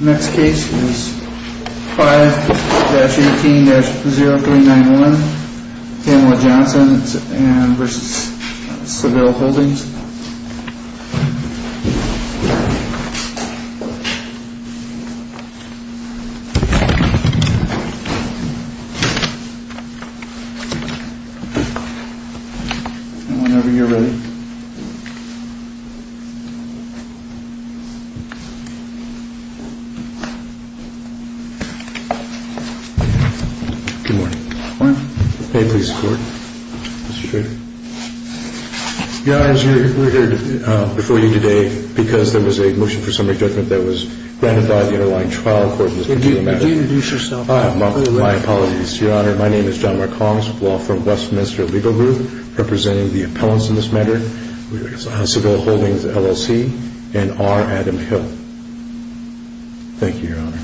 Next case is 5-18-0391, Pamela Johnson v. Seville Holdings Whenever you're ready Good morning. May it please the Court, Mr. Traitor? Your Honor, we're here before you today because there was a motion for summary judgment that was granted by the underlying trial court in this particular matter. Would you introduce yourself? My apologies, Your Honor. My name is John Mark Holmes, with the law firm Westminster Legal Group, representing the appellants in this matter. Seville Holdings, LLC, and R. Adam Hill. Thank you, Your Honor.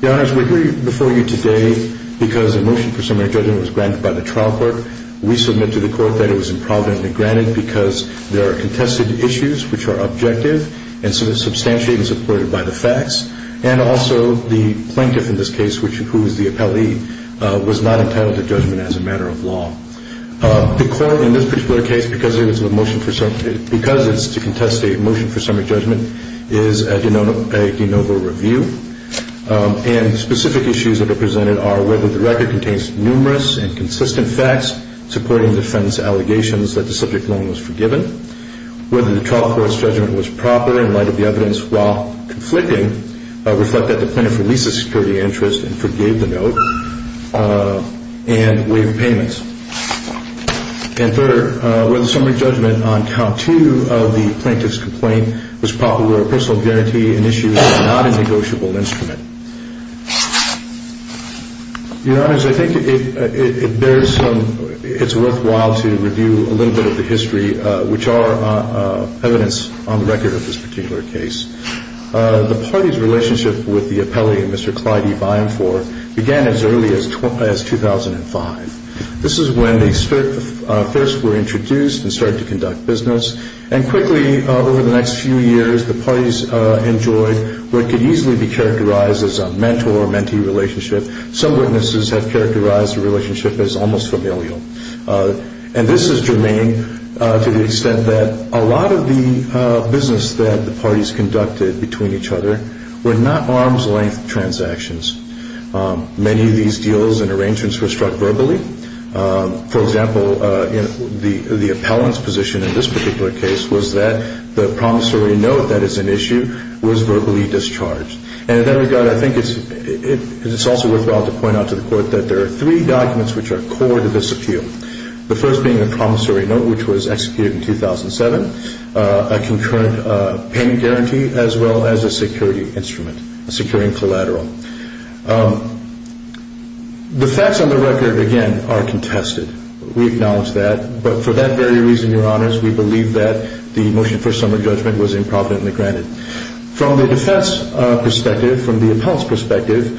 Your Honor, we're here before you today because a motion for summary judgment was granted by the trial court. We submit to the Court that it was improperly granted because there are contested issues which are objective and substantially supported by the facts. And also, the plaintiff in this case, who is the appellee, was not entitled to judgment as a matter of law. The Court, in this particular case, because it's to contest a motion for summary judgment, is at a de novo review. And specific issues that are presented are whether the record contains numerous and consistent facts supporting defendant's allegations that the subject loan was forgiven, whether the trial court's judgment was proper in light of the evidence while conflicting, reflect that the plaintiff released a security interest and forgave the note, and waived payments. And third, whether the summary judgment on count two of the plaintiff's complaint was proper, or a personal guarantee in issues that are not a negotiable instrument. Your Honors, I think it's worthwhile to review a little bit of the history, which are evidence on the record of this particular case. The party's relationship with the appellee, Mr. Clyde E. Byenforth, began as early as 2005. This is when they first were introduced and started to conduct business. And quickly, over the next few years, the parties enjoyed what could easily be characterized as a mentor-mentee relationship. Some witnesses have characterized the relationship as almost familial. And this is germane to the extent that a lot of the business that the parties conducted between each other were not arm's length transactions. Many of these deals and arrangements were struck verbally. For example, the appellant's position in this particular case was that the promissory note that is an issue was verbally discharged. And in that regard, I think it's also worthwhile to point out to the Court that there are three documents which are core to this appeal. The first being the promissory note, which was executed in 2007, a concurrent payment guarantee, as well as a security instrument, a securing collateral. The facts on the record, again, are contested. We acknowledge that. But for that very reason, Your Honors, we believe that the motion for summary judgment was improvidently granted. From the defense perspective, from the appellant's perspective,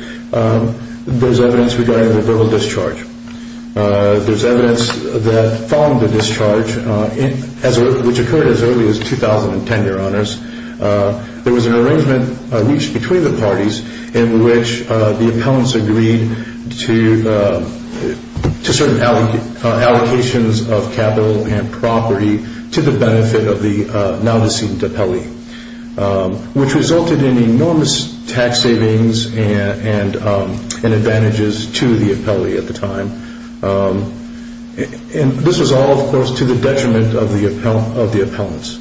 there's evidence regarding the verbal discharge. There's evidence that following the discharge, which occurred as early as 2010, Your Honors, there was an arrangement reached between the parties in which the appellants agreed to certain allocations of capital and property to the benefit of the now-deceased appellee. Which resulted in enormous tax savings and advantages to the appellee at the time. And this was all, of course, to the detriment of the appellants.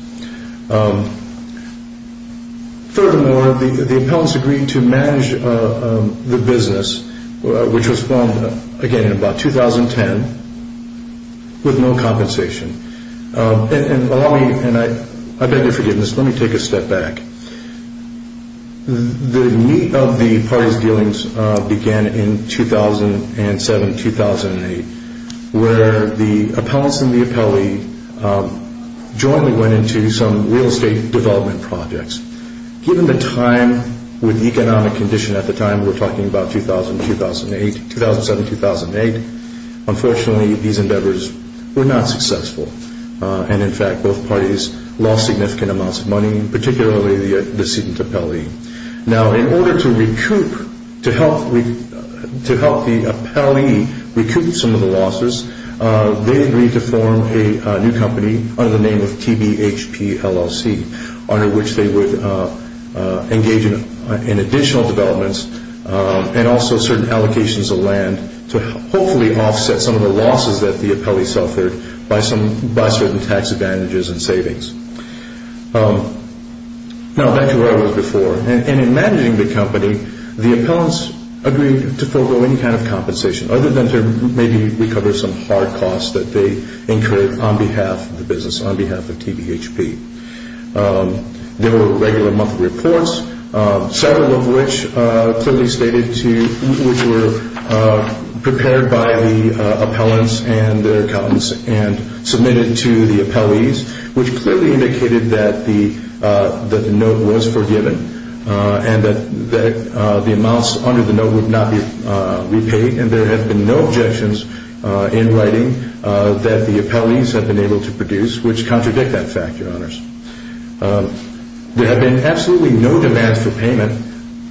Furthermore, the appellants agreed to manage the business, which was formed, again, in about 2010, with no compensation. And allow me, and I beg your forgiveness, let me take a step back. The meat of the parties' dealings began in 2007, 2008, where the appellants and the appellee jointly went into some real estate development projects. Given the time with economic condition at the time, we're talking about 2000, 2008, 2007, 2008, unfortunately, these endeavors were not successful. And, in fact, both parties lost significant amounts of money, particularly the decedent appellee. Now, in order to recoup, to help the appellee recoup some of the losses, they agreed to form a new company under the name of TBHP LLC, under which they would engage in additional developments and also certain allocations of land to hopefully offset some of the losses that the appellee suffered by certain tax advantages and savings. Now, back to where I was before. In managing the company, the appellants agreed to forego any kind of compensation, other than to maybe recover some hard costs that they incurred on behalf of the business, on behalf of TBHP. There were regular monthly reports, several of which clearly stated to, which were prepared by the appellants and their accountants and submitted to the appellees, which clearly indicated that the note was forgiven and that the amounts under the note would not be repaid. And there have been no objections in writing that the appellees have been able to produce, which contradict that fact, Your Honors. There have been absolutely no demands for payment,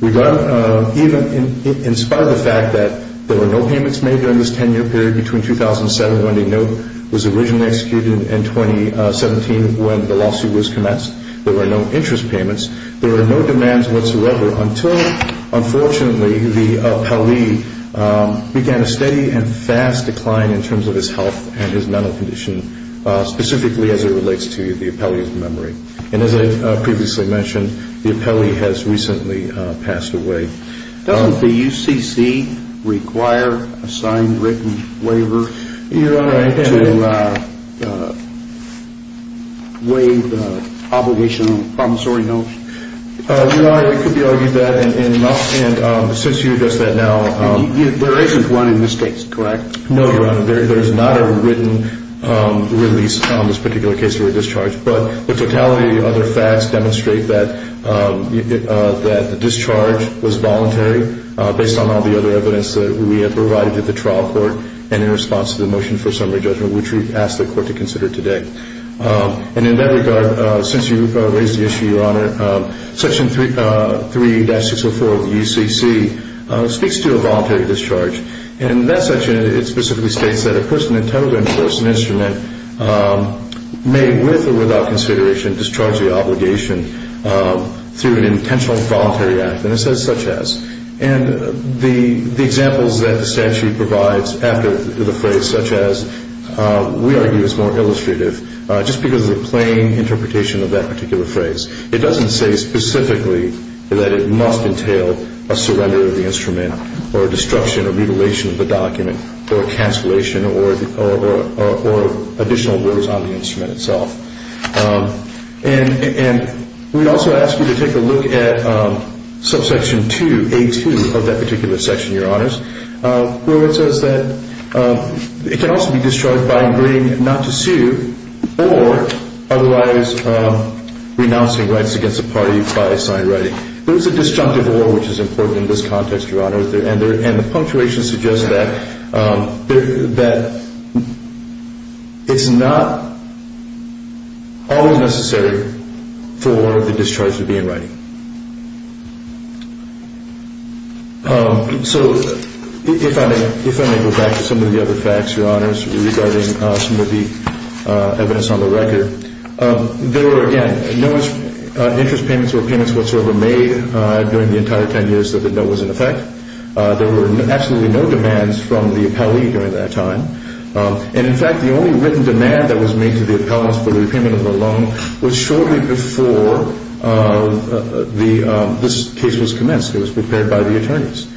even in spite of the fact that there were no payments made during this 10-year period, between 2007 when the note was originally executed and 2017 when the lawsuit was commenced. There were no interest payments. There were no demands whatsoever until, unfortunately, the appellee began a steady and fast decline in terms of his health and his mental condition, specifically as it relates to the appellee's memory. And as I previously mentioned, the appellee has recently passed away. Doesn't the UCC require a signed, written waiver to waive the obligation on promissory notes? Your Honor, it could be argued that, and since you addressed that now, There isn't one in this case, correct? No, Your Honor. There is not a written release on this particular case for a discharge. But the totality of the other facts demonstrate that the discharge was voluntary, based on all the other evidence that we have provided to the trial court, and in response to the motion for summary judgment, which we've asked the court to consider today. And in that regard, since you raised the issue, Your Honor, Section 3-604 of the UCC speaks to a voluntary discharge. And in that section, it specifically states that a person intended to enforce an instrument may, with or without consideration, discharge the obligation through an intentional and voluntary act. And it says, such as. And the examples that the statute provides after the phrase, such as, we argue is more illustrative, just because of the plain interpretation of that particular phrase. It doesn't say specifically that it must entail a surrender of the instrument, or a destruction or mutilation of the document, or a cancellation, or additional words on the instrument itself. And we also ask you to take a look at subsection 2A2 of that particular section, Your Honors, where it says that it can also be discharged by agreeing not to sue, or otherwise renouncing rights against a party by assigned writing. There is a disjunctive or, which is important in this context, Your Honor, and the punctuation suggests that it's not always necessary for the discharge to be in writing. So if I may go back to some of the other facts, Your Honors, regarding some of the evidence on the record. There were, again, no interest payments or payments whatsoever made during the entire 10 years that the bill was in effect. There were absolutely no demands from the appellee during that time. And, in fact, the only written demand that was made to the appellants for the repayment of the loan was shortly before this case was commenced. It was prepared by the attorneys.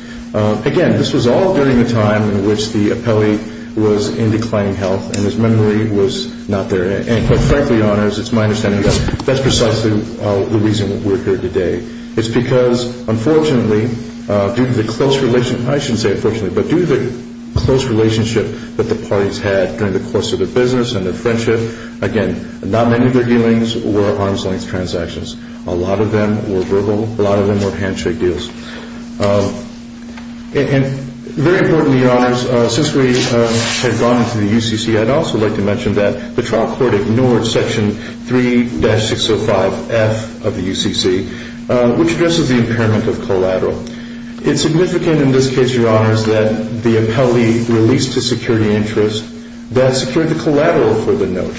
Again, this was all during the time in which the appellee was in declining health and his memory was not there. And, quite frankly, Your Honors, it's my understanding that that's precisely the reason we're here today. It's because, unfortunately, due to the close relationship, I shouldn't say unfortunately, but due to the close relationship that the parties had during the course of their business and their friendship, again, not many of their dealings were arm's-length transactions. A lot of them were verbal. A lot of them were handshake deals. And very importantly, Your Honors, since we have gone into the UCC, I'd also like to mention that the trial court ignored Section 3-605F of the UCC, which addresses the impairment of collateral. It's significant in this case, Your Honors, that the appellee released a security interest that secured the collateral for the note.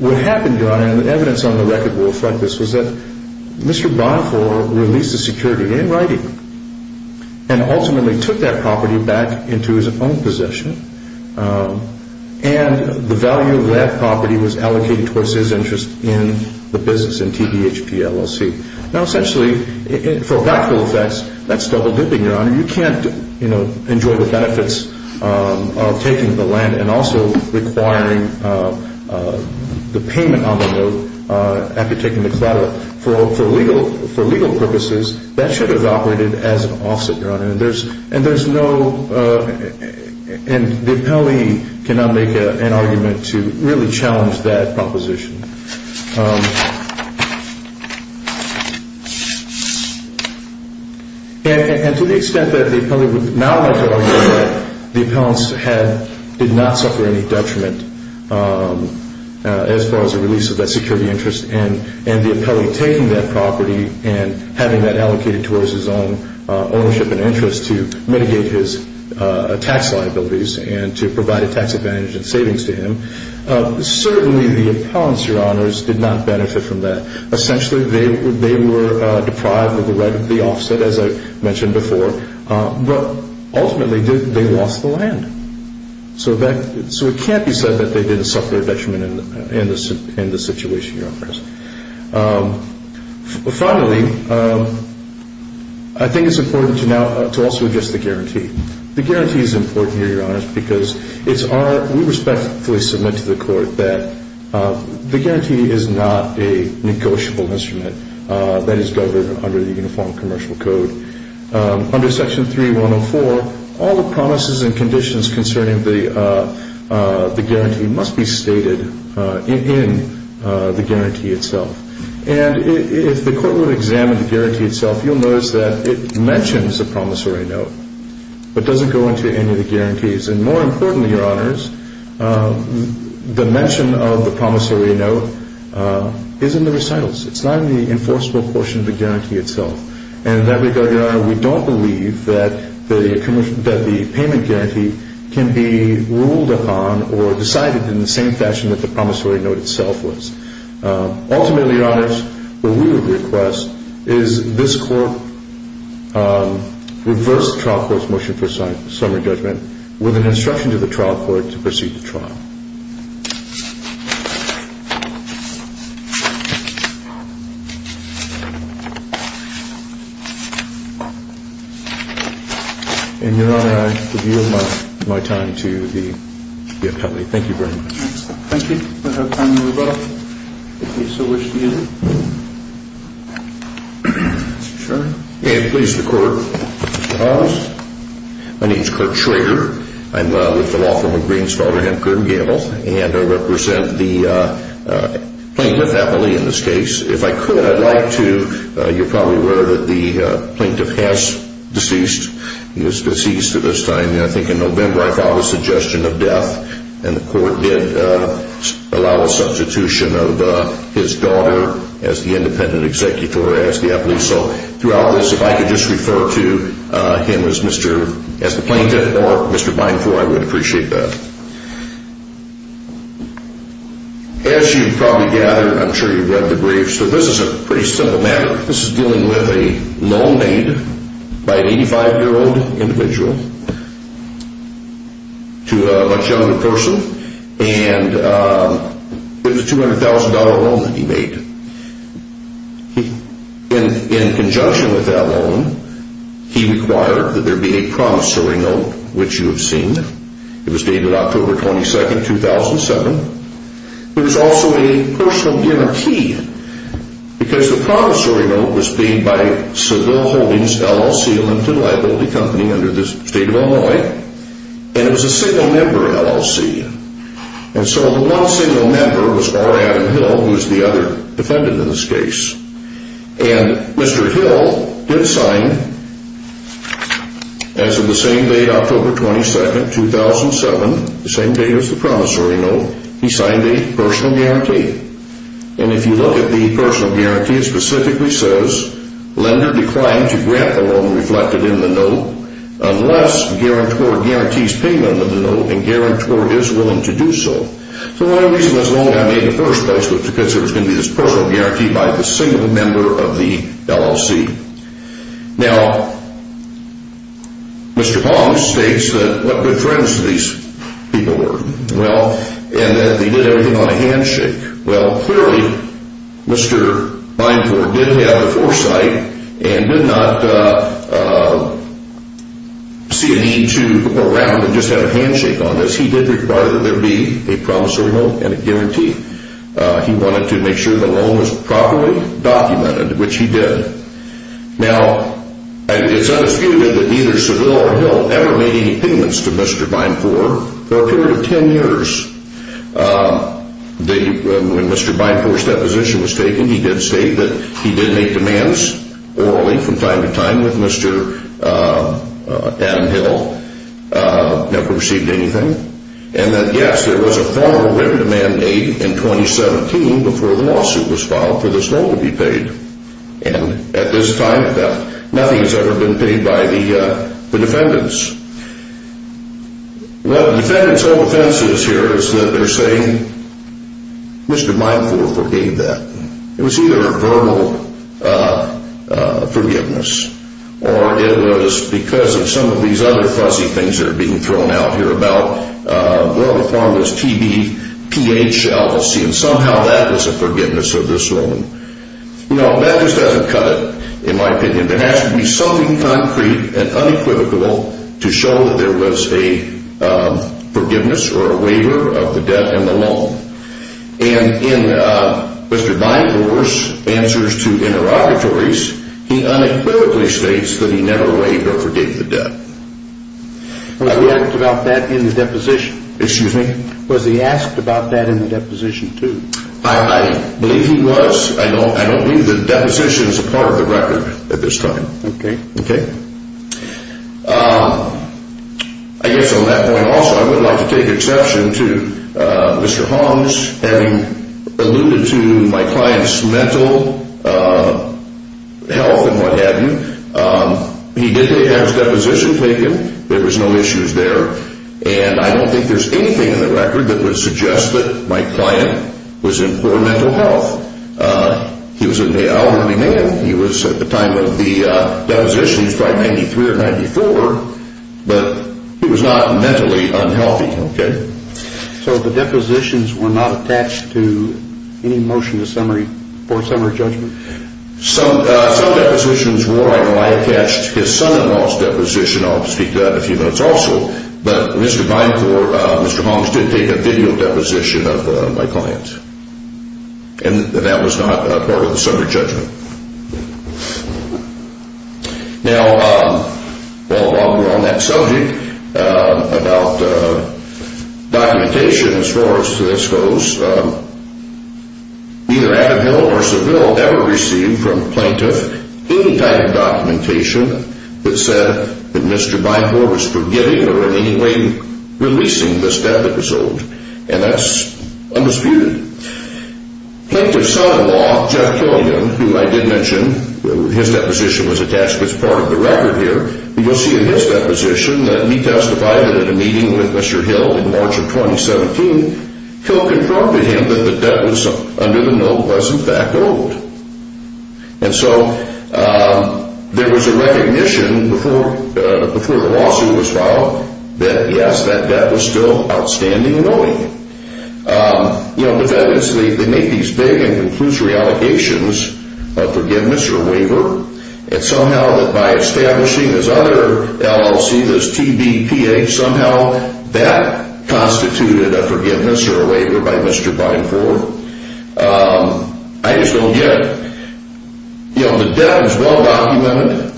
What happened, Your Honor, and the evidence on the record will reflect this, was that Mr. Bonifor released the security in writing and ultimately took that property back into his own possession. And the value of that property was allocated towards his interest in the business, in TBHP LLC. Now, essentially, for practical effects, that's double-dipping, Your Honor. You can't, you know, enjoy the benefits of taking the land and also requiring the payment on the note after taking the collateral. For legal purposes, that should have operated as an offset, Your Honor. And there's no—and the appellee cannot make an argument to really challenge that proposition. And to the extent that the appellee would not like to argue that the appellant did not suffer any detriment as far as the release of that security interest, and the appellee taking that property and having that allocated towards his own ownership and interest to mitigate his tax liabilities and to provide a tax advantage and savings to him, certainly the appellants, Your Honors, did not benefit from that. Essentially, they were deprived of the right of the offset, as I mentioned before. But ultimately, they lost the land. So it can't be said that they didn't suffer a detriment in the situation, Your Honors. Finally, I think it's important to also address the guarantee. The guarantee is important here, Your Honors, because it's our—we respectfully submit to the Court that the guarantee is not a negotiable instrument that is governed under the Uniform Commercial Code. Under Section 3104, all the promises and conditions concerning the guarantee must be stated in the guarantee itself. And if the Court would examine the guarantee itself, you'll notice that it mentions a promissory note but doesn't go into any of the guarantees. And more importantly, Your Honors, the mention of the promissory note is in the recitals. It's not in the enforceable portion of the guarantee itself. And in that regard, Your Honor, we don't believe that the payment guarantee can be ruled upon or decided in the same fashion that the promissory note itself was. Ultimately, Your Honors, what we would request is this Court reverse the trial court's motion for summary judgment with an instruction to the trial court to proceed the trial. And Your Honor, I yield my time to the appellee. Thank you very much. Thank you. We'll have time to move on if you so wish to use it. Mr. Schroeder. May it please the Court, Your Honors. My name is Kurt Schroeder. I'm with the law firm of Green's father, Hemkern Gamble, and I represent the plaintiff's appellee in this case. If I could, I'd like to, you're probably aware that the plaintiff has deceased. He was deceased at this time, I think in November, I filed a suggestion of death and the Court did allow a substitution of his daughter as the independent executor, as the appellee. So throughout this, if I could just refer to him as the plaintiff or Mr. Binefort, I would appreciate that. As you probably gather, I'm sure you've read the brief, so this is a pretty simple matter. This is dealing with a loan made by an 85-year-old individual to a much younger person, and it was a $200,000 loan that he made. In conjunction with that loan, he required that there be a promissory note, which you have seen. It was dated October 22, 2007. There was also a personal inner key, because the promissory note was made by Seville Holdings LLC, Linton Liability Company, under the state of Illinois, and it was a single member LLC. And so the one single member was R. Adam Hill, who was the other defendant in this case. And Mr. Hill did sign, as of the same day, October 22, 2007, the same day as the promissory note, he signed a personal guarantee. And if you look at the personal guarantee, it specifically says, Lender declined to grant the loan reflected in the note unless guarantor guarantees payment of the note, and guarantor is willing to do so. So the only reason this loan got made in the first place was because there was going to be this personal guarantee by the single member of the LLC. Now, Mr. Palm states that what good friends these people were, and that they did everything on a handshake. Well, clearly, Mr. Bineport did have the foresight and did not see a need to go around and just have a handshake on this. He did require that there be a promissory note and a guarantee. He wanted to make sure the loan was properly documented, which he did. Now, it's undisputed that neither Seville or Hill ever made any payments to Mr. Bineport for a period of 10 years. When Mr. Bineport's deposition was taken, he did state that he did make demands orally from time to time with Mr. Adam Hill. Never received anything. And then, yes, there was a formal written demand made in 2017 before the lawsuit was filed for this loan to be paid. And at this time, nothing has ever been paid by the defendants. What the defendants' whole defense is here is that they're saying, Mr. Bineport forgave that. It was either a verbal forgiveness, or it was because of some of these other fuzzy things that are being thrown out here about, well, the form was TBPH, LLC, and somehow that was a forgiveness of this loan. No, that just doesn't cut it, in my opinion. There has to be something concrete and unequivocal to show that there was a forgiveness or a waiver of the debt and the loan. And in Mr. Bineport's answers to interrogatories, he unequivocally states that he never waived or forgave the debt. Was he asked about that in the deposition? Excuse me? Was he asked about that in the deposition, too? I believe he was. I don't believe the deposition is a part of the record at this time. Okay. Okay? I guess on that point also, I would like to take exception to Mr. Holmes having alluded to my client's mental health and what have you. He did have his deposition taken. There was no issues there. And I don't think there's anything in the record that would suggest that my client was in poor mental health. He was an elderly man. He was, at the time of the deposition, he was probably 93 or 94, but he was not mentally unhealthy. Okay. So the depositions were not attached to any motion for summary judgment? Some depositions were. I know I attached his son-in-law's deposition. I'll speak to that in a few minutes also. But Mr. Binecore, Mr. Holmes did take a video deposition of my client. And that was not part of the summary judgment. Now, while we're on that subject, about documentation as far as this goes, neither Abbott Hill or Seville ever received from a plaintiff any type of documentation that said that Mr. Binecore was forgiving or in any way releasing this debt that was owed. And that's undisputed. Plaintiff's son-in-law, Jeff Killigan, who I did mention, his deposition was attached, but it's part of the record here. You'll see in his deposition that he testified at a meeting with Mr. Hill in March of 2017. Hill confirmed to him that the debt that was under the note was, in fact, owed. And so there was a recognition before the lawsuit was filed that, yes, that debt was still outstanding and owing. You know, defendants, they make these big and conclusory allegations of forgiveness or waiver. And somehow that by establishing this other LLC, this TBPA, somehow that constituted a forgiveness or a waiver by Mr. Binecore. I just don't get it. You know, the debt was well documented.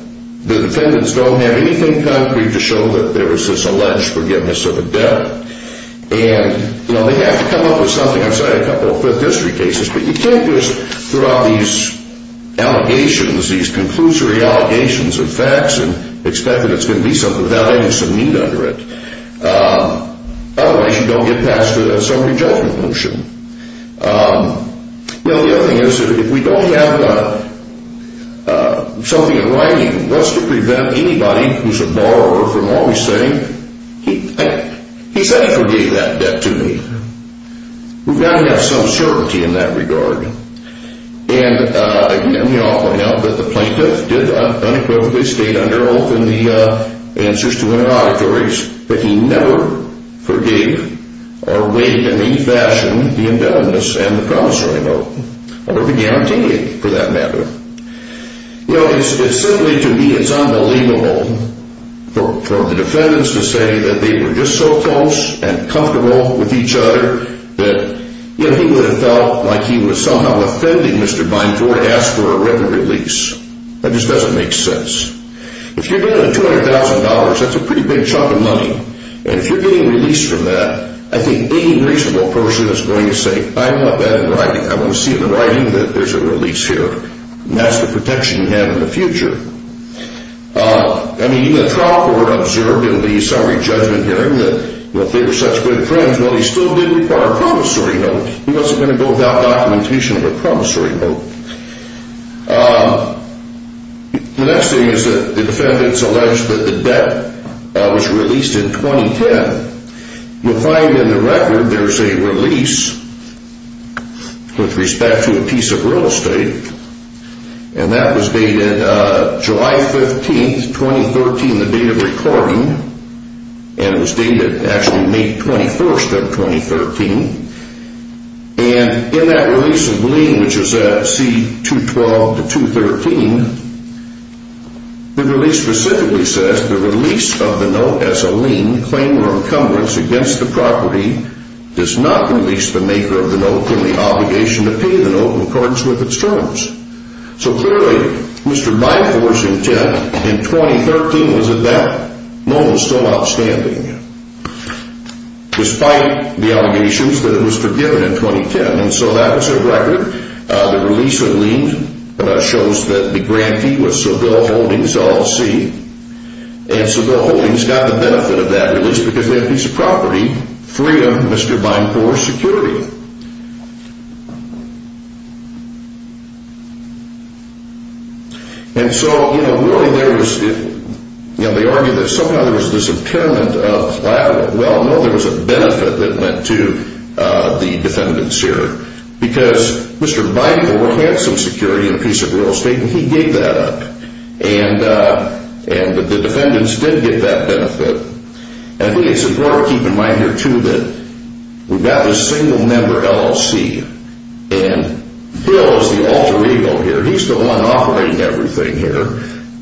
The defendants don't have anything concrete to show that there was this alleged forgiveness of a debt. And, you know, they have to come up with something. I've cited a couple of Fifth District cases, but you can't just throw out these allegations, these conclusory allegations of facts and expect that it's going to be something without any sort of need under it. Otherwise, you don't get past a summary judgment motion. Well, the other thing is that if we don't have something in writing, what's to prevent anybody who's a borrower from always saying, he said he forgave that debt to me. We've got to have some certainty in that regard. And, you know, the plaintiff did unequivocally stay under oath in the answers to her auditories, but he never forgave or waived in any fashion the indebtedness and the promissory note, or the guarantee, for that matter. You know, it's simply to me, it's unbelievable for the defendants to say that they were just so close and comfortable with each other that, you know, he would have felt like he was somehow offending Mr. Bynford to ask for a written release. That just doesn't make sense. If you're getting a $200,000, that's a pretty big chunk of money. And if you're getting released from that, I think any reasonable person is going to say, I want that in writing. I want to see it in writing that there's a release here. And that's the protection you have in the future. I mean, even the trial court observed in the summary judgment hearing that they were such good friends. Well, he still did require a promissory note. He wasn't going to go without documentation of a promissory note. The next thing is that the defendants allege that the debt was released in 2010. You'll find in the record there's a release with respect to a piece of real estate. And that was dated July 15th, 2013, the date of recording. And it was dated actually May 21st of 2013. And in that release of lien, which is at C212 to 213, the release specifically says, The release of the note as a lien, claim or encumbrance against the property, does not release the maker of the note from the obligation to pay the note in accordance with its terms. So clearly, Mr. Byford's intent in 2013 was at that moment still outstanding, despite the allegations that it was forgiven in 2010. And so that was a record. The release of lien shows that the grantee was Sobel Holdings, LLC. And Sobel Holdings got the benefit of that release because they had a piece of property free of Mr. Byford's security. And so, you know, really there was, you know, they argue that somehow there was this impairment of, well, no, there was a benefit that went to the defendants here. Because Mr. Byford had some security in a piece of real estate and he gave that up. And the defendants did get that benefit. And I think it's important to keep in mind here too that we've got this single member LLC. And Bill is the alter ego here. He's the one operating everything here.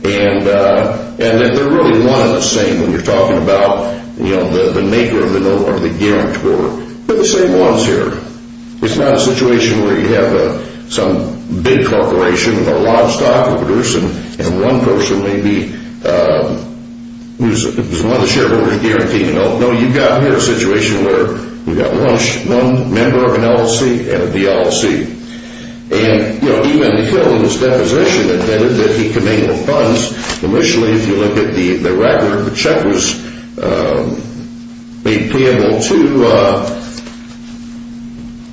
And that they're really one and the same when you're talking about, you know, the maker of the note or the guarantor. They're the same ones here. It's not a situation where you have some big corporation with a lot of stock to produce and one person may be who's one of the shareholders of the guarantor. No, you've got here a situation where we've got one member of an LLC and a DLLC. And, you know, even in the fill in this deposition that he could make the funds, initially, if you look at the record, the check was made payable to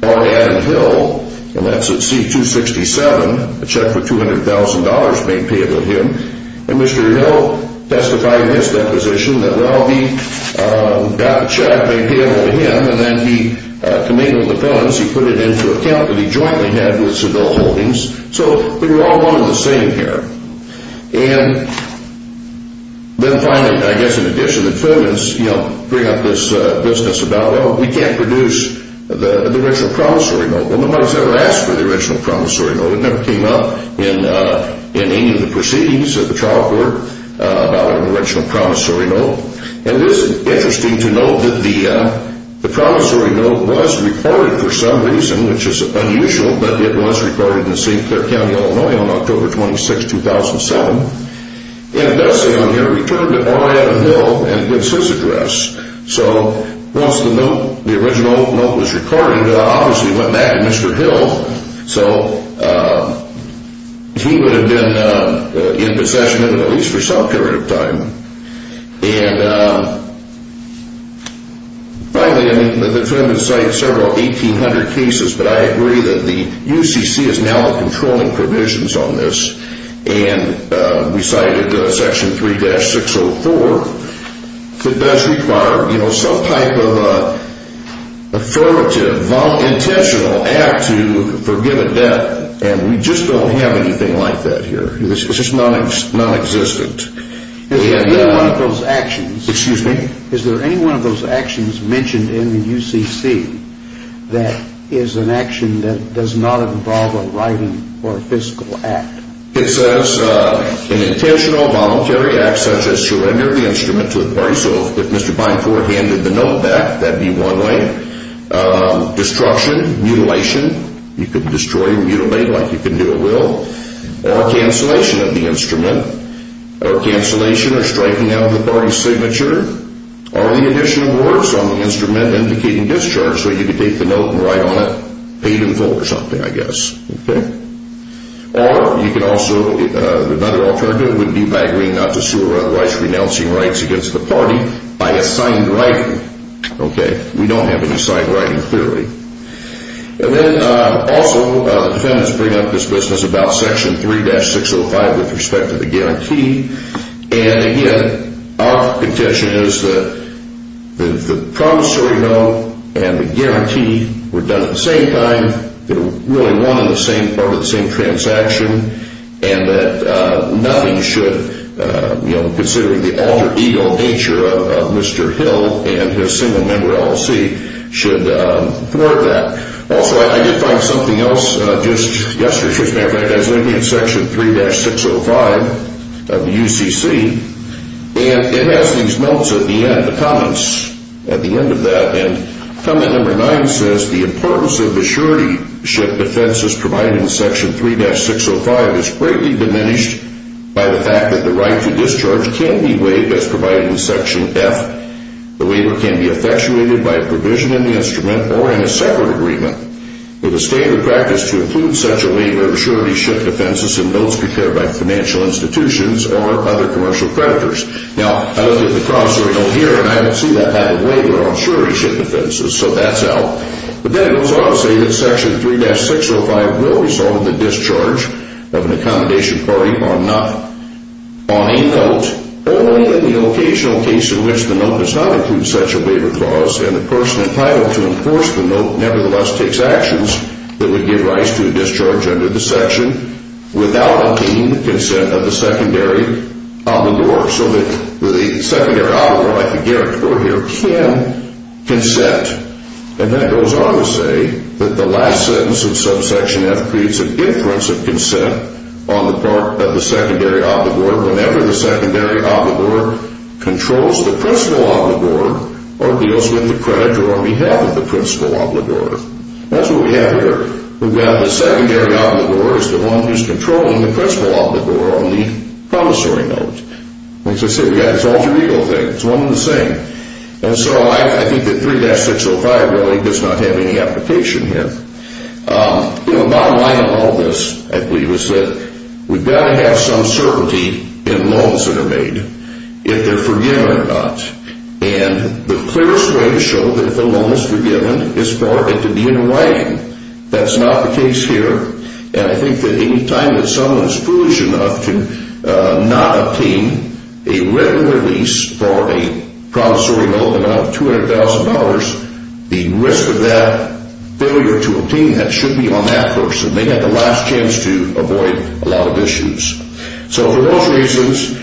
Warren Hill. And that's at C-267, a check for $200,000 made payable to him. And Mr. Hill testified in his deposition that, well, he got the check made payable to him and then he committed the funds, he put it into account that he jointly had with Seville Holdings. So we were all one and the same here. And then finally, I guess in addition, the fill in this, you know, bring up this business about, well, we can't produce the original promissory note. Well, nobody's ever asked for the original promissory note. It never came up in any of the proceedings of the trial court about an original promissory note. And it is interesting to note that the promissory note was recorded for some reason, which is unusual, but it was recorded in St. Clair County, Illinois, on October 26, 2007. And it does say on here, returned to Orlando Hill, and it's his address. So once the note, the original note was recorded, it obviously went back to Mr. Hill. So he would have been in possession of it at least for some period of time. And finally, I mean, the trial has cited several 1,800 cases, but I agree that the UCC is now controlling provisions on this. And we cited Section 3-604. It does require, you know, some type of affirmative, intentional act to forgive a debt. And we just don't have anything like that here. It's just nonexistent. Excuse me? Is there any one of those actions mentioned in the UCC that is an action that does not involve a writing or a physical act? It says an intentional, voluntary act such as surrender of the instrument to a person. So if Mr. Binefort handed the note back, that would be one way. Destruction, mutilation. You could destroy or mutilate like you can do at will. Or cancellation of the instrument. Or cancellation or striking out of the party's signature. Or the addition of words on the instrument indicating discharge, so you could take the note and write on it, paid in full or something, I guess. Okay? Or you could also, another alternative would be by agreeing not to sue or otherwise renouncing rights against the party by assigned writing. Okay. We don't have any assigned writing, clearly. And then also, the defendants bring up this business about Section 3-605 with respect to the guarantee. And again, our contention is that the promissory note and the guarantee were done at the same time. They were really one and the same part of the same transaction. And that nothing should, you know, considering the alter ego nature of Mr. Hill and his single member LLC, should thwart that. Also, I did find something else just yesterday. As a matter of fact, I was looking at Section 3-605 of the UCC. And it has these notes at the end, the comments at the end of that. And comment number 9 says, The importance of the surety ship defenses provided in Section 3-605 is greatly diminished by the fact that the right to discharge can be waived as provided in Section F. The waiver can be effectuated by a provision in the instrument or in a separate agreement. With a standard practice to include such a waiver of surety ship defenses in notes prepared by financial institutions or other commercial creditors. Now, I look at the promissory note here, and I don't see that type of waiver on surety ship defenses. So that's out. But then it goes on to say that Section 3-605 will result in the discharge of an accommodation party on a note, only in the occasional case in which the note does not include such a waiver clause, and the person entitled to enforce the note nevertheless takes actions that would give rise to a discharge under the section, without obtaining the consent of the secondary obligor. So that the secondary obligor, like the guarantor here, can consent. And then it goes on to say that the last sentence of Subsection F creates a difference of consent on the part of the secondary obligor whenever the secondary obligor controls the principal obligor or deals with the creditor on behalf of the principal obligor. That's what we have here. We've got the secondary obligor is the one who's controlling the principal obligor on the promissory note. Like I said, we've got this alter ego thing. It's one and the same. And so I think that 3-605 really does not have any application here. You know, the bottom line of all this, I believe, is that we've got to have some certainty in loans that are made, if they're forgiven or not. And the clearest way to show that the loan is forgiven is for it to be in writing. That's not the case here. And I think that any time that someone is foolish enough to not obtain a written release for a promissory note amounting to $200,000, the risk of that failure to obtain that should be on that person. They've got the last chance to avoid a lot of issues. So for those reasons,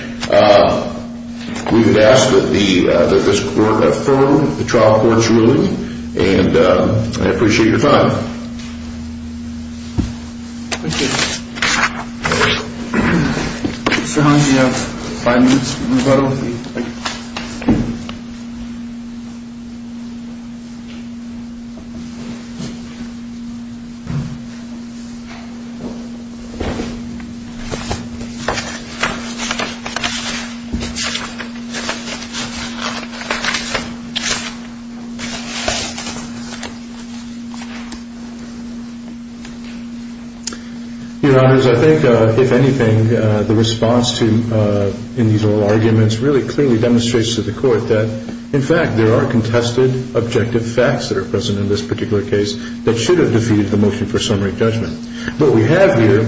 we would ask that this court affirm the trial court's ruling. And I appreciate your time. Thank you. Mr. Hines, you have five minutes. We'll move right over to you. Thank you. Your Honors, I think, if anything, the response in these oral arguments really clearly demonstrates to the court that, in fact, there are contested objective facts that are present in this particular case that should have defeated the motion for summary judgment. What we have here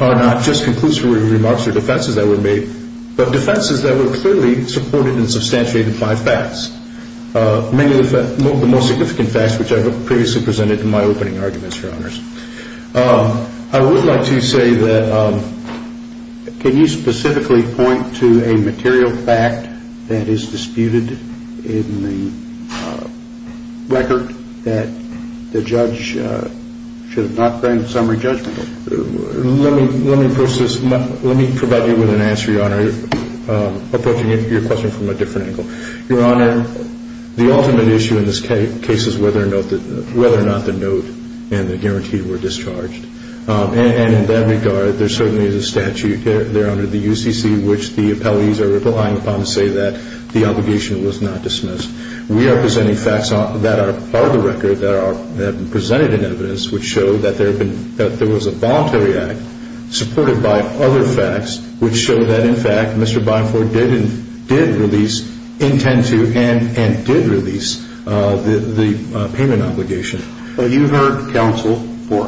are not just conclusive remarks or defenses that were made, but defenses that were clearly supported and substantiated by facts. Many of the most significant facts, which I previously presented in my opening arguments, Your Honors. I would like to say that can you specifically point to a material fact that is disputed in the record that the judge should not bring summary judgment? Let me provide you with an answer, Your Honor, approaching your question from a different angle. Your Honor, the ultimate issue in this case is whether or not the note and the guarantee were discharged. And in that regard, there certainly is a statute there under the UCC, which the appellees are relying upon to say that the obligation was not dismissed. We are presenting facts that are part of the record that have been presented in evidence, which show that there was a voluntary act supported by other facts, which show that, in fact, Mr. Byford did intend to and did release the payment obligation. You heard counsel or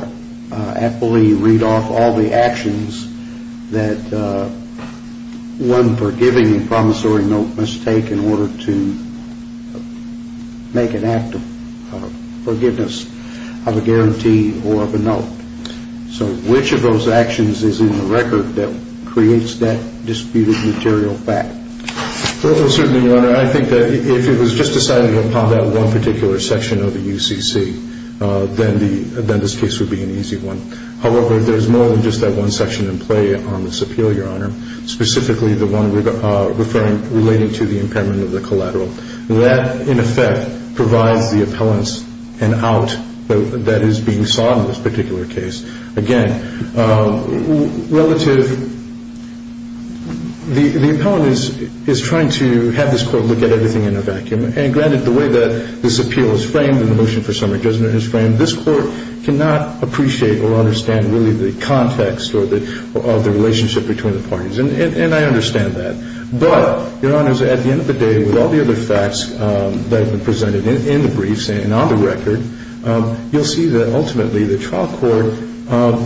appellee read off all the actions that one forgiving and promissory note must take in order to make an act of forgiveness of a guarantee or of a note. So which of those actions is in the record that creates that disputed material fact? Well, certainly, Your Honor, I think that if it was just decided upon that one particular section of the UCC, then this case would be an easy one. However, there is more than just that one section in play on this appeal, Your Honor, specifically the one relating to the impairment of the collateral. And I think that's why the Court of Appeals is so critical of this case. It's a case that, in effect, provides the appellants an out that is being sought in this particular case. Again, relative – the appellant is trying to have this Court look at everything in a vacuum. And granted, the way that this appeal is framed and the motion for some adjustment is framed, this Court cannot appreciate or understand really the context of the relationship between the parties. And I understand that. But, Your Honors, at the end of the day, with all the other facts that have been presented in the briefs and on the record, you'll see that ultimately the trial court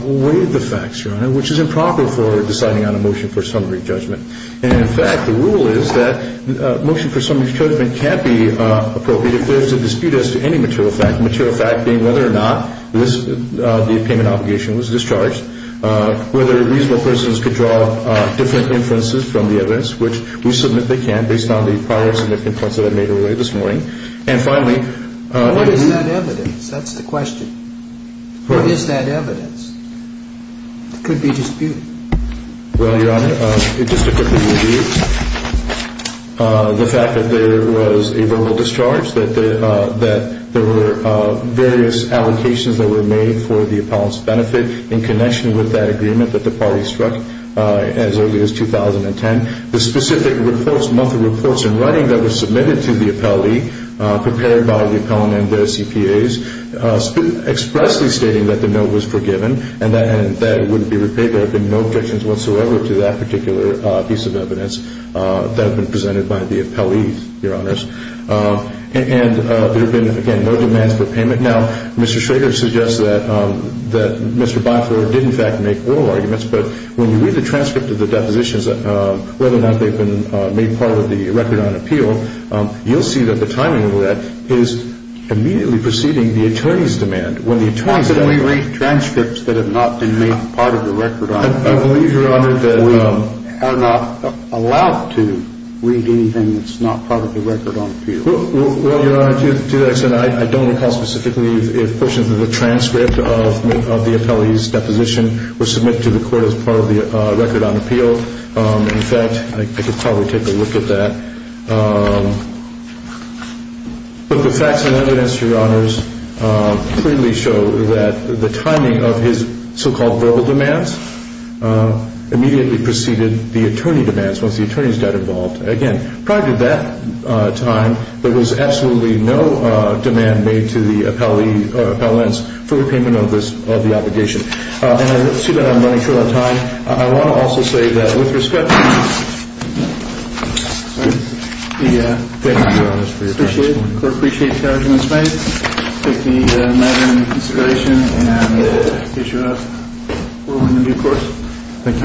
weighed the facts, Your Honor, which is improper for deciding on a motion for summary judgment. And in fact, the rule is that a motion for summary judgment can't be appropriate if there's a dispute as to any material fact, material fact being whether or not this – the payment obligation was discharged, whether reasonable persons could draw different inferences from the evidence, which we submit they can based on the prior significant points that I made earlier this morning. And finally – What is that evidence? That's the question. What is that evidence? It could be disputed. Well, Your Honor, just to quickly review the fact that there was a verbal discharge, that there were various allocations that were made for the appellant's benefit in connection with that agreement that the parties struck as early as 2010. The specific monthly reports in writing that were submitted to the appellee, prepared by the appellant and their CPAs, expressly stating that the note was forgiven and that it wouldn't be repaid. There have been no objections whatsoever to that particular piece of evidence that have been presented by the appellees, Your Honors. And there have been, again, no demands for payment. Now, Mr. Schrader suggests that Mr. Byford did in fact make oral arguments, but when you read the transcript of the depositions, whether or not they've been made part of the record on appeal, you'll see that the timing of that is immediately preceding the attorney's demand. Why should we read transcripts that have not been made part of the record on appeal? I believe, Your Honor, that we are not allowed to read anything that's not part of the record on appeal. Well, Your Honor, to that extent, I don't recall specifically if portions of the transcript of the appellee's deposition were submitted to the court as part of the record on appeal. In fact, I could probably take a look at that. But the facts and evidence, Your Honors, clearly show that the timing of his so-called verbal demands immediately preceded the attorney demands once the attorney's got involved. Again, prior to that time, there was absolutely no demand made to the appellants for repayment of the obligation. And I see that I'm running short on time. I want to also say that, with respect, we thank you, Your Honors, for your time this morning. We appreciate you having us tonight. Thank you, Madam, for your consideration. And we wish you all the best for your new course. Thank you.